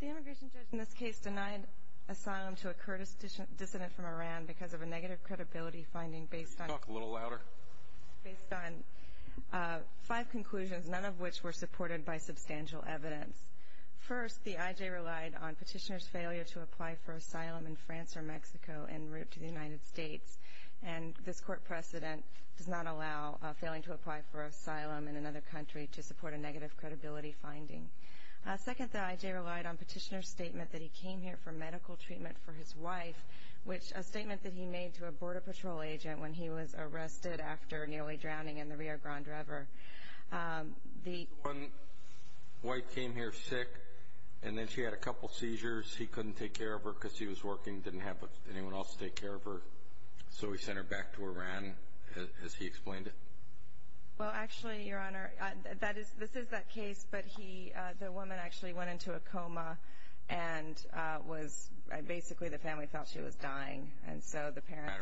The Immigration Judge in this case denied asylum to a Kurdish dissident from Iran because of a negative credibility finding based on five conclusions, none of which were supported by substantial evidence. First, the IJ relied on Petitioner's failure to apply for asylum in France or Mexico en and this court precedent does not allow failing to apply for asylum in another country to support a negative credibility finding. Second, the IJ relied on Petitioner's statement that he came here for medical treatment for his wife, which a statement that he made to a border patrol agent when he was arrested after nearly drowning in the Rio Grande River. The one wife came here sick and then she had a couple seizures. He couldn't take care of her because she was working, didn't have anyone else take care of her, so he sent her back to Iran, as he explained it. Well, actually, Your Honor, this is that case, but the woman actually went into a coma and basically the family thought she was dying and so the parents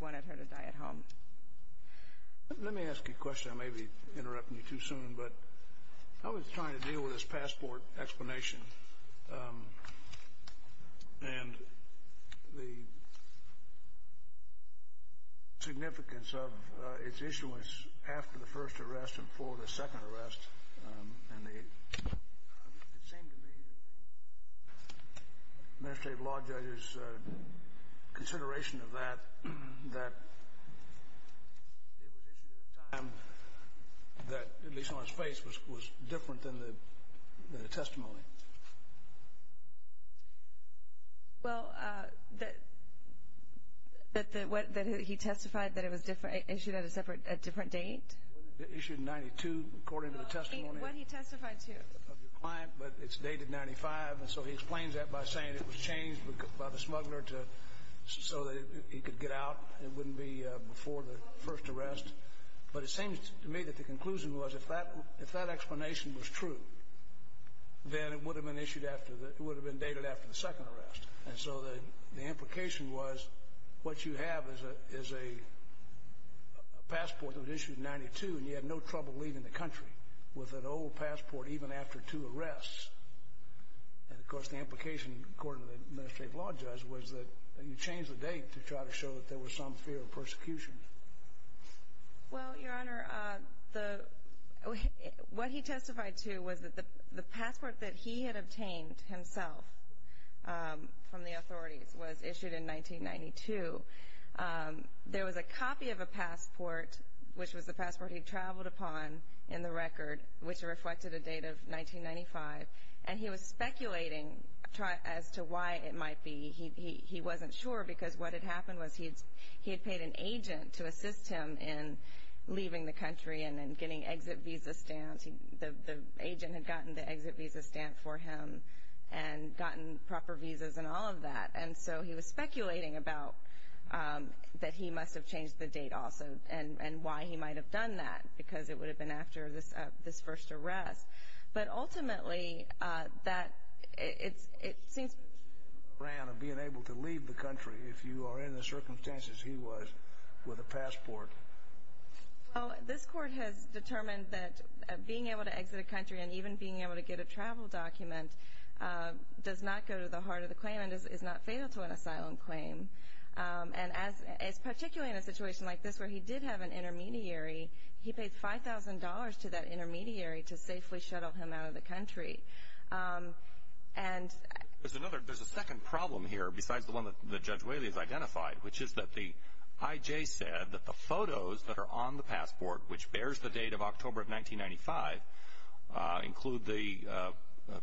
wanted her to die at home. Let me ask you a question. I may be interrupting you too soon, but I was trying to deal with this passport explanation and the significance of its issuance after the first arrest and before the second arrest and it seemed to me that the Administrative Law Judge's consideration of that, that it Well, that he testified that it was issued at a different date? Issued in 92, according to the testimony of your client, but it's dated 95, so he explains that by saying it was changed by the smuggler so that he could get out, it wouldn't be before the first arrest, but it seems to me that the conclusion was if that explanation was true, then it would have been issued after, it would have been dated after the second arrest, and so the implication was what you have is a passport that was issued in 92 and you had no trouble leaving the country with an old passport even after two arrests, and of course the implication, according to the Administrative Law Judge, was that you changed the date to try to show that there was some fear of persecution. Well, Your Honor, the, what he testified to was that the passport that he had obtained himself from the authorities was issued in 1992. There was a copy of a passport, which was the passport he traveled upon in the record, which reflected a date of 1995, and he was speculating as to why it might be. He wasn't sure because what had happened was he had paid an agent to assist him in leaving the country and then getting exit visa stamps, the agent had gotten the exit visa stamp for him and gotten proper visas and all of that, and so he was speculating about that he must have changed the date also and why he might have done that, because it would have been after this first arrest, but ultimately that, it seems to me that's not true. Well, this court has determined that being able to exit a country and even being able to get a travel document does not go to the heart of the claim and is not fatal to an asylum claim, and as, particularly in a situation like this where he did have an intermediary, he paid $5,000 to that intermediary to safely shuttle him out of the country. There's a second problem here besides the one that Judge Whaley has identified, which is that the IJ said that the photos that are on the passport, which bears the date of October of 1995, include the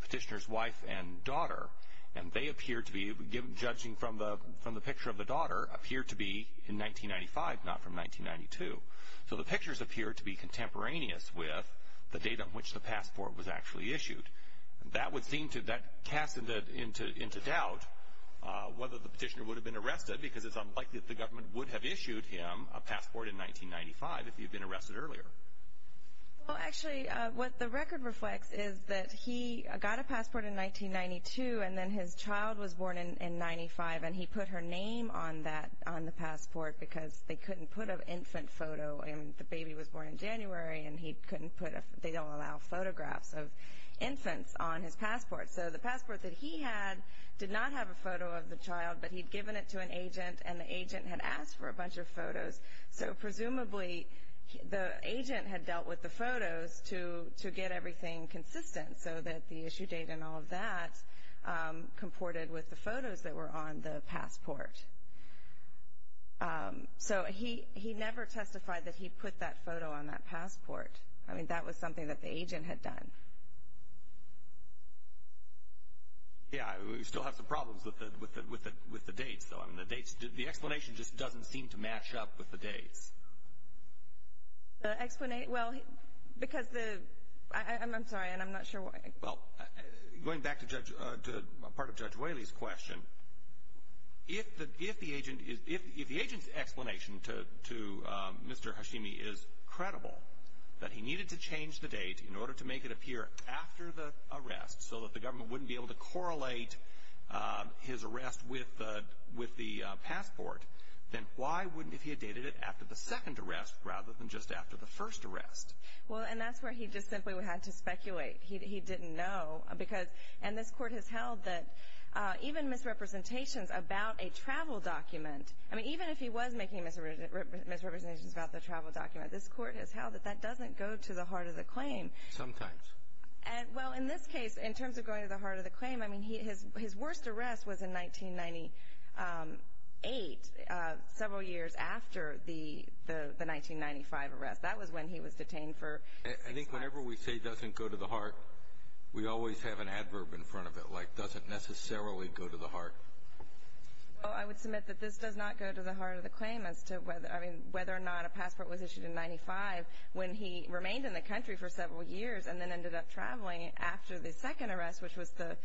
petitioner's wife and daughter, and they appear to be, judging from the picture of the daughter, appear to be in 1995, not from 1992. So the pictures appear to be contemporaneous with the date on which the passport was actually issued. That would seem to, that casts into doubt whether the petitioner would have been arrested, because it's unlikely that the government would have issued him a passport in 1995 if he had been arrested earlier. Well, actually, what the record reflects is that he got a passport in 1992, and then his child was born in 95, and he put her name on that, on the passport, because they couldn't put an infant photo, and the baby was born in January, and he couldn't put a, they don't allow photographs of infants on his passport. So the passport that he had did not have a photo of the child, but he'd given it to an agent, and the agent had asked for a bunch of photos. So presumably, the agent had dealt with the photos to get everything consistent so that the issue date and all of that comported with the photos that were on the passport. So he never testified that he put that photo on that passport. I mean, that was something that the agent had done. Yeah, we still have some problems with the dates, though. I mean, the dates, the explanation just doesn't seem to match up with the dates. The, well, because the, I'm sorry, and I'm not sure why. Well, going back to Judge, part of Judge Whaley's question, if the, if the agent, if the agent's explanation to, to Mr. Hashimi is credible, that he needed to change the date in order to make it appear after the arrest so that the government wouldn't be able to correlate his arrest with the, with the passport, then why wouldn't, if he had dated it after the second arrest rather than just after the first arrest? Well, and that's where he just simply had to speculate. He, he didn't know because, and this Court has held that even misrepresentations about a travel document, I mean, even if he was making misrepresentations about the travel document, this Court has held that that doesn't go to the heart of the claim. Sometimes. And, well, in this case, in terms of going to the heart of the claim, I mean, he, his, his worst arrest was in 1998, several years after the, the, the 1995 arrest. That was when he was detained for six months. I think whenever we say doesn't go to the heart, we always have an adverb in front of it, like doesn't necessarily go to the heart. Well, I would submit that this does not go to the heart of the claim as to whether, I mean, whether or not a passport was issued in 1995 when he remained in the country for several years and then ended up traveling after the second arrest, which was the,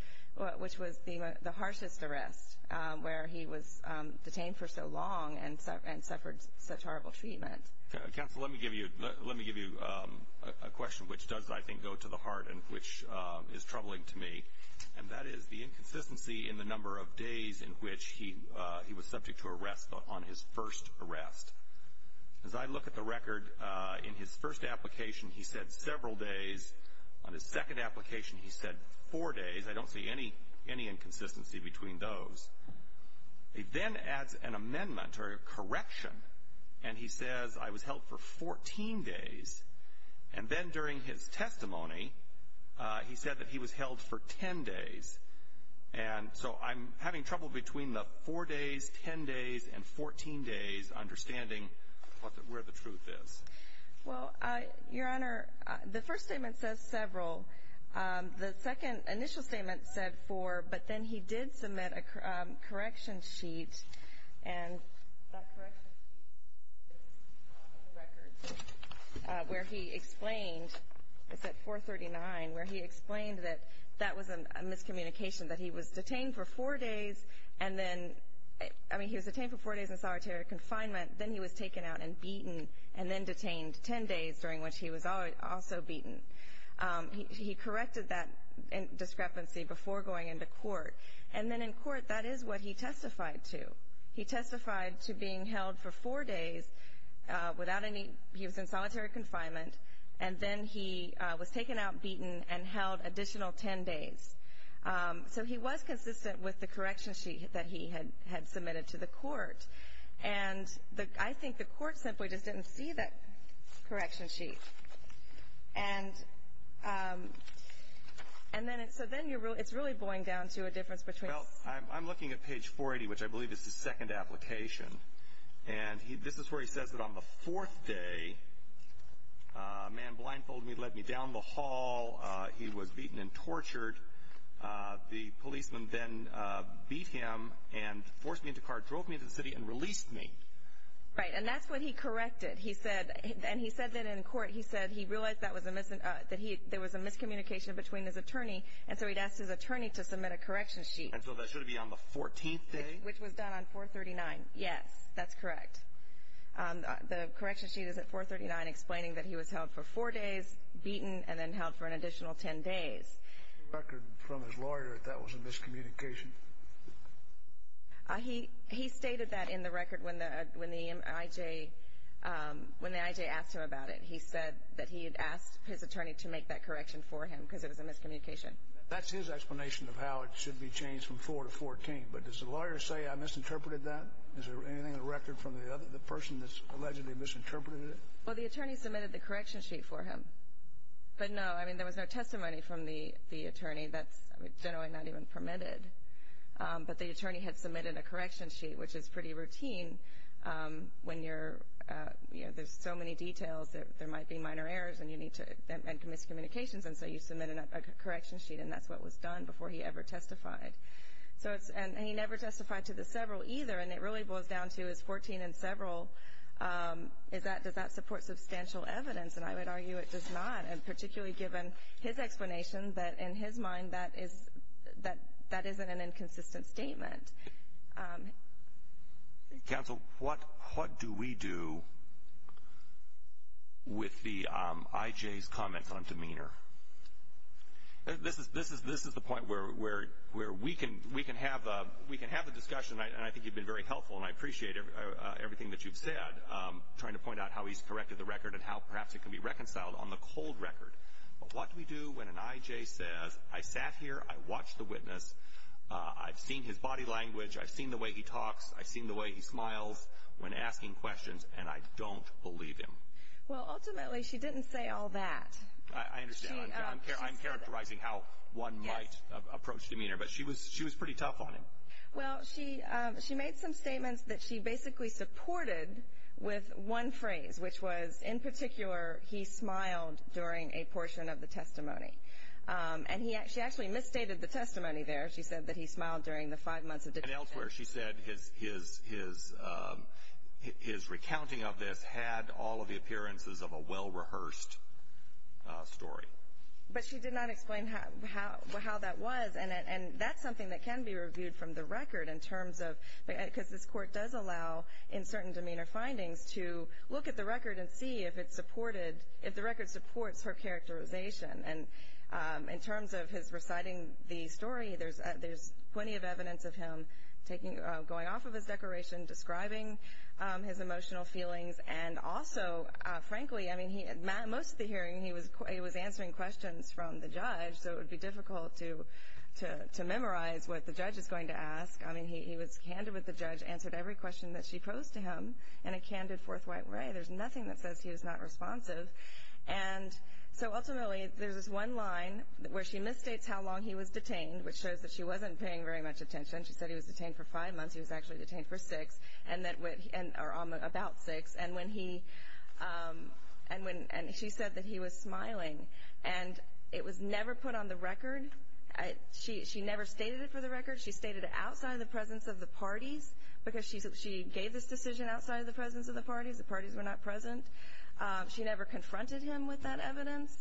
which was the, the harshest arrest, where he was detained for so long and, and suffered such horrible treatment. Counsel, let me give you, let me give you a question which does, I think, go to the heart and which is troubling to me, and that is the inconsistency in the number of days in which he, he was subject to arrest on his first arrest. As I look at the record, in his first application, he said several days. On his second application, he said four days. I don't see any, any inconsistency between those. He then adds an amendment or a correction, and he says, I was held for 14 days, and then during his testimony, he said that he was held for 10 days, and so I'm having trouble between the four days, 10 days, and 14 days understanding what, where the truth is. Well, Your Honor, the first statement says several. The second initial statement said four, but then he did submit a correction sheet, and that correction sheet is on the record, where he explained, it's at 439, where he explained that that was a miscommunication, that he was detained for four days, and then, I mean, he was detained for four days in solitary confinement, then he was taken out and beaten, and then detained 10 days, during which he was also beaten. He corrected that discrepancy before going into court, and then in court, that is what he testified to. He testified to being held for four days without any, he was in solitary confinement, and then he was taken out, beaten, and held additional 10 days. So he was consistent with the correction sheet that he had submitted to the court. And I think the court simply just didn't see that correction sheet. And, and then, so then you're, it's really boiling down to a difference between. Well, I'm looking at page 480, which I believe is the second application, and he, this is where he says that on the fourth day, a man blindfolded me, led me down the hall, he was beaten and tortured. The policeman then beat him and forced me into a car, drove me into the city and released me. Right, and that's what he corrected. He said, and he said that in court, he said he realized that was a mis, that he, there was a miscommunication between his attorney, and so he'd asked his attorney to submit a correction sheet. And so that should be on the 14th day? Which was done on 439. Yes, that's correct. The correction sheet is at 439, explaining that he was held for four days, beaten, and then held for an additional 10 days. What's the record from his lawyer that that was a miscommunication? He, he stated that in the record when the, when the IJ, when the IJ asked him about it, he said that he had asked his attorney to make that correction for him, because it was a miscommunication. That's his explanation of how it should be changed from 4 to 14. But does the lawyer say I misinterpreted that? Is there anything in the record from the other, the person that's allegedly misinterpreted it? Well, the attorney submitted the correction sheet for him. But no, I mean, there was no testimony from the attorney. That's generally not even permitted. But the attorney had submitted a correction sheet, which is pretty routine. When you're, you know, there's so many details that there might be minor errors and you need to, and miscommunications. And so you submit a correction sheet. And that's what was done before he ever testified. So it's, and he never testified to the several either. And it really boils down to his 14 and several. Is that, does that support substantial evidence? And I would argue it does not. And particularly given his explanation that in his mind, that is, that, that isn't an inconsistent statement. Counsel, what, what do we do with the IJ's comments on demeanor? This is, this is, this is the point where, where, where we can, we can have a, we can have a discussion. And I think you've been very helpful and I appreciate everything that you've said. Trying to point out how he's corrected the record and how perhaps it can be reconciled on the cold record. But what do we do when an IJ says, I sat here, I watched the witness, I've seen his body language, I've seen the way he talks, I've seen the way he smiles when asking questions, and I don't believe him. Well, ultimately, she didn't say all that. I understand. I'm characterizing how one might approach demeanor. But she was, she was pretty tough on him. Well, she, she made some statements that she basically supported with one phrase, which was, in particular, he smiled during a portion of the testimony. And he actually, she actually misstated the testimony there. She said that he smiled during the five months of detention. And elsewhere, she said his, his, his, his recounting of this had all of the appearances of a well-rehearsed story. But she did not explain how, how, how that was. And that's something that can be reviewed from the record in terms of, because this is a record, and see if it's supported, if the record supports her characterization. And in terms of his reciting the story, there's, there's plenty of evidence of him taking, going off of his declaration, describing his emotional feelings. And also, frankly, I mean, he, most of the hearing, he was, he was answering questions from the judge, so it would be difficult to, to, to memorize what the judge is going to ask. I mean, he, he was candid with the judge, answered every question that she posed to him in a candid, forthright way. There's nothing that says he was not responsive. And so, ultimately, there's this one line where she misstates how long he was detained, which shows that she wasn't paying very much attention. She said he was detained for five months. He was actually detained for six, and that, or about six. And when he, and when, and she said that he was smiling. And it was never put on the record. She, she never stated it for the record. She stated it outside of the presence of the parties, because she, she gave this decision outside of the presence of the parties. The parties were not present. She never confronted him with that evidence.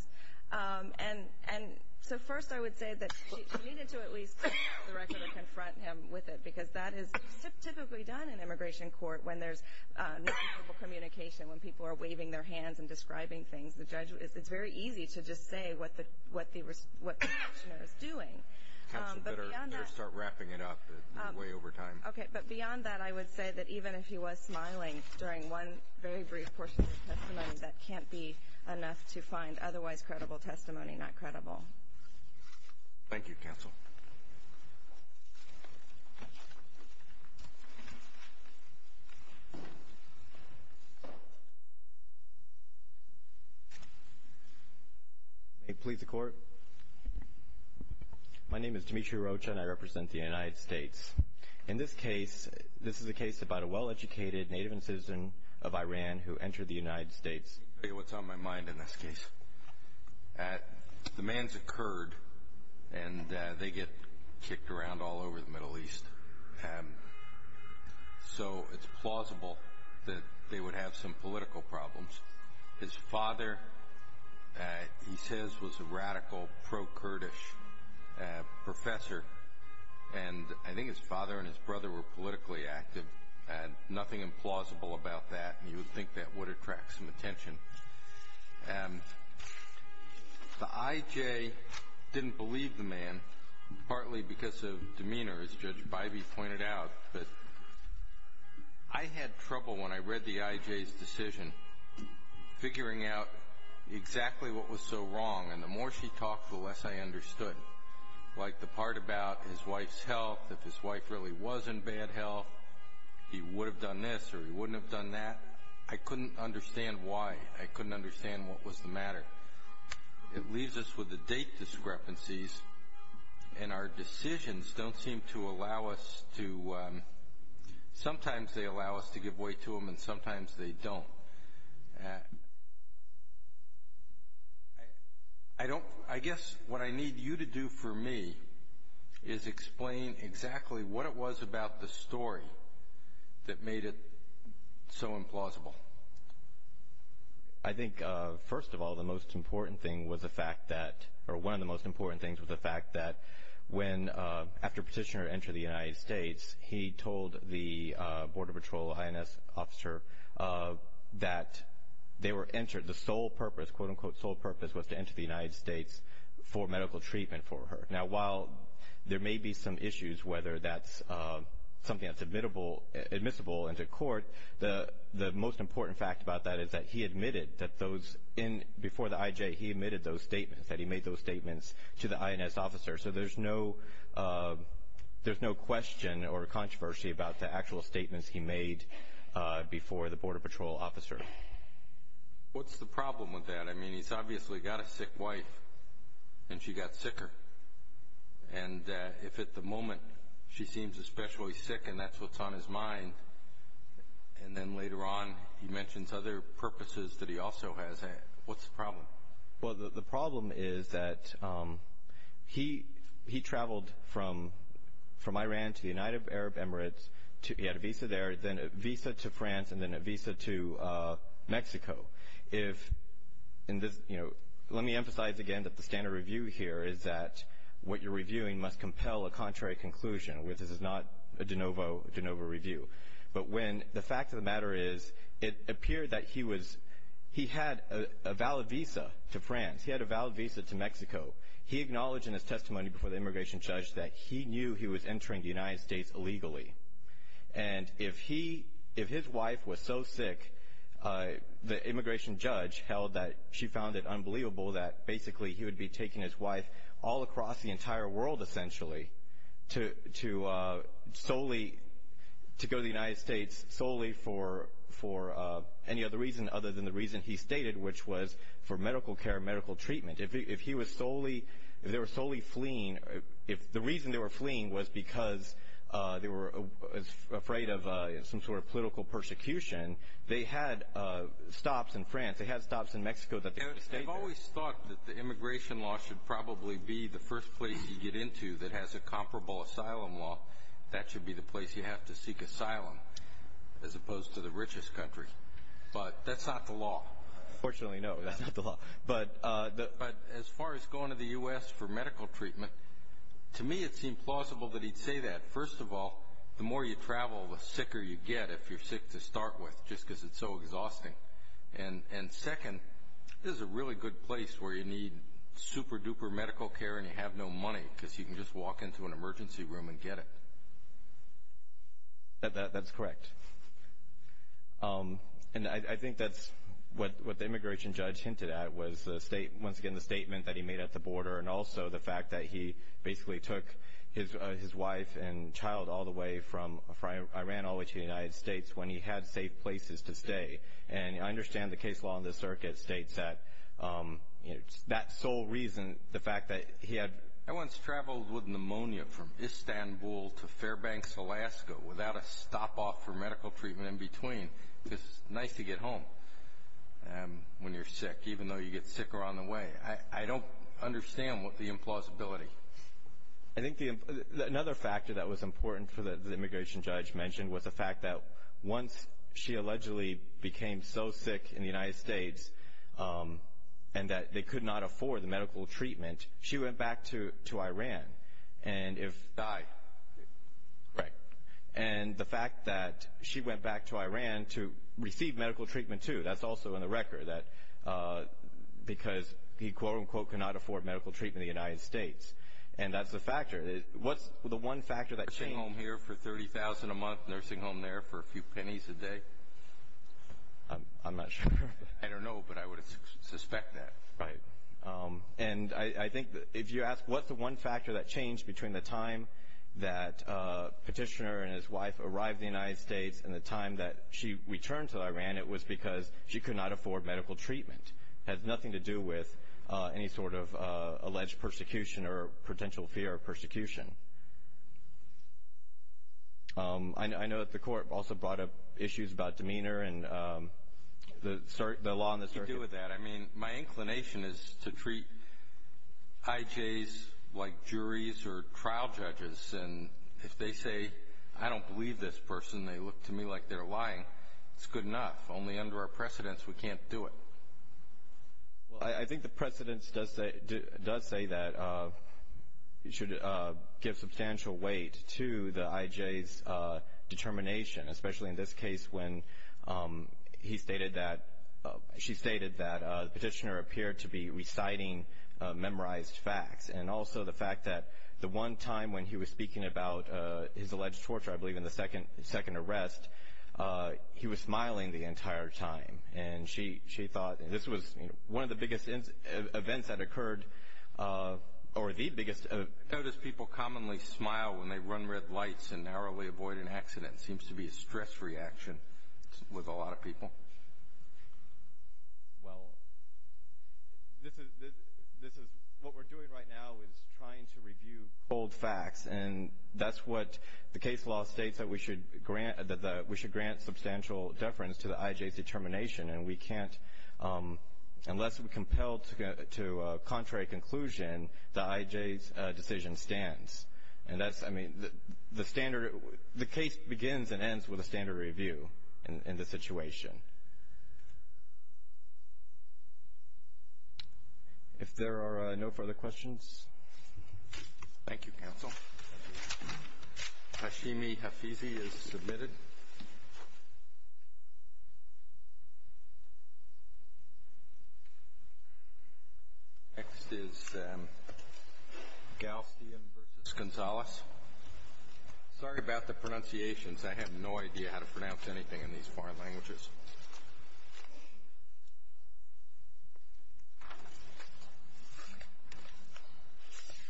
And, and, so, first, I would say that she, she needed to at least put it on the record and confront him with it, because that is typically done in immigration court when there's nonverbal communication, when people are waving their hands and describing things. The judge, it's very easy to just say what the, what the, what the action is doing. But beyond that. Counsel, you better, better start wrapping it up. You're way over time. Okay. But beyond that, I would say that even if he was smiling during one very brief portion of his testimony, that can't be enough to find otherwise credible testimony not credible. Thank you, Counsel. May it please the Court. My name is Demetri Rocha, and I represent the United States. In this case, this is a case about a well-educated native and citizen of Iran who entered the United States. I'll tell you what's on my mind in this case. The man's a Kurd, and they get kicked around all over the Middle East. So it's plausible that they would have some political problems. His father, he says, was a radical pro-Kurdish professor. And I think his father and his brother were politically active. And nothing implausible about that. And you would think that would attract some attention. And the IJ didn't believe the man, partly because of demeanor, as Judge Bybee pointed out. But I had trouble when I read the IJ's decision, figuring out exactly what was so wrong. And the more she talked, the less I understood. Like the part about his wife's health. If his wife really was in bad health, he would have done this or he wouldn't have done that. I couldn't understand why. I couldn't understand what was the matter. It leaves us with the date discrepancies. And our decisions don't seem to allow us to, sometimes they allow us to give way to them, and sometimes they don't. And I don't, I guess what I need you to do for me is explain exactly what it was about the story that made it so implausible. I think, first of all, the most important thing was the fact that, or one of the most important things was the fact that when, after Petitioner entered the United States, he told the Border Patrol INS officer that they were entered, the sole purpose, quote unquote, sole purpose was to enter the United States for medical treatment for her. Now, while there may be some issues, whether that's something that's admissible into court, the most important fact about that is that he admitted that those, before the IJ, he admitted those statements, that he made those statements to the INS officer. So there's no, there's no question or controversy about the actual statements he made before the Border Patrol officer. What's the problem with that? I mean, he's obviously got a sick wife, and she got sicker. And if at the moment she seems especially sick and that's what's on his mind, and then later on he mentions other purposes that he also has, what's the problem? Well, the problem is that he, he traveled from, from Iran to the United Arab Emirates, to, he had a visa there, then a visa to France, and then a visa to Mexico. If, in this, you know, let me emphasize again that the standard review here is that what you're reviewing must compel a contrary conclusion, which this is not a de novo, de novo review. But when, the fact of the matter is, it appeared that he was, he had a valid visa to France, he had a valid visa to Mexico. He acknowledged in his testimony before the immigration judge that he knew he was entering the United States illegally. And if he, if his wife was so sick, the immigration judge held that she found it unbelievable that basically he would be taking his wife all across the entire world essentially to, to solely, to go to the United States solely for, for any other reason other than the reason he stated, which was for medical care, medical treatment. If he, if he was solely, if they were solely fleeing, if the reason they were fleeing was because they were afraid of some sort of political persecution, they had stops in France, they had stops in Mexico that they could stay there. I've always thought that the immigration law should probably be the first place you get into that has a comparable asylum law. That should be the place you have to seek asylum as opposed to the richest country. But that's not the law. Fortunately, no, that's not the law. But, but as far as going to the U.S. for medical treatment, to me it seemed plausible that he'd say that. First of all, the more you travel, the sicker you get if you're sick to start with, just because it's so exhausting. And, and second, this is a really good place where you need super duper medical care and you have no money because you can just walk into an emergency room and get it. That's correct. And I think that's what, what the immigration judge hinted at was the state, once again, the statement that he made at the border and also the fact that he basically took his, his wife and child all the way from Iran all the way to the United States when he had safe places to stay. And I understand the case law in this circuit states that, you know, that sole reason, the I once traveled with pneumonia from Istanbul to Fairbanks, Alaska without a stop off for medical treatment in between. It's nice to get home when you're sick, even though you get sicker on the way. I don't understand what the implausibility. I think the, another factor that was important for the immigration judge mentioned was the fact that once she allegedly became so sick in the United States and that they could not to Iran and if I, right. And the fact that she went back to Iran to receive medical treatment too, that's also in the record that because he quote unquote cannot afford medical treatment in the United States. And that's the factor. What's the one factor that came home here for 30,000 a month nursing home there for a few pennies a day? I'm not sure. I don't know, but I would suspect that. And I think if you ask what's the one factor that changed between the time that petitioner and his wife arrived in the United States and the time that she returned to Iran, it was because she could not afford medical treatment has nothing to do with any sort of alleged persecution or potential fear of persecution. I know that the court also brought up issues about demeanor and the law on the circuit. I mean, my inclination is to treat IJs like juries or trial judges. And if they say, I don't believe this person, they look to me like they're lying. It's good enough. Only under our precedence, we can't do it. Well, I think the precedence does say that it should give substantial weight to the IJs determination, especially in this case, when he stated that she stated that the petitioner appeared to be reciting memorized facts and also the fact that the one time when he was speaking about his alleged torture, I believe in the second second arrest, he was smiling the entire time. And she she thought this was one of the biggest events that occurred or the biggest. Notice people commonly smile when they run red lights and narrowly avoid an accident seems to be a stress reaction with a lot of people. Well, this is this is what we're doing right now is trying to review old facts, and that's what the case law states that we should grant that we should grant substantial deference to the IJs determination. And we can't unless we're compelled to get to a contrary conclusion. The IJs decision stands. And that's I mean, the standard the case begins and ends with a standard review in the situation. If there are no further questions. Thank you, counsel. Hashimi Hafizi is submitted. Next is Galstian versus Gonzalez. Sorry about the pronunciations. I have no idea how to pronounce anything in these foreign languages.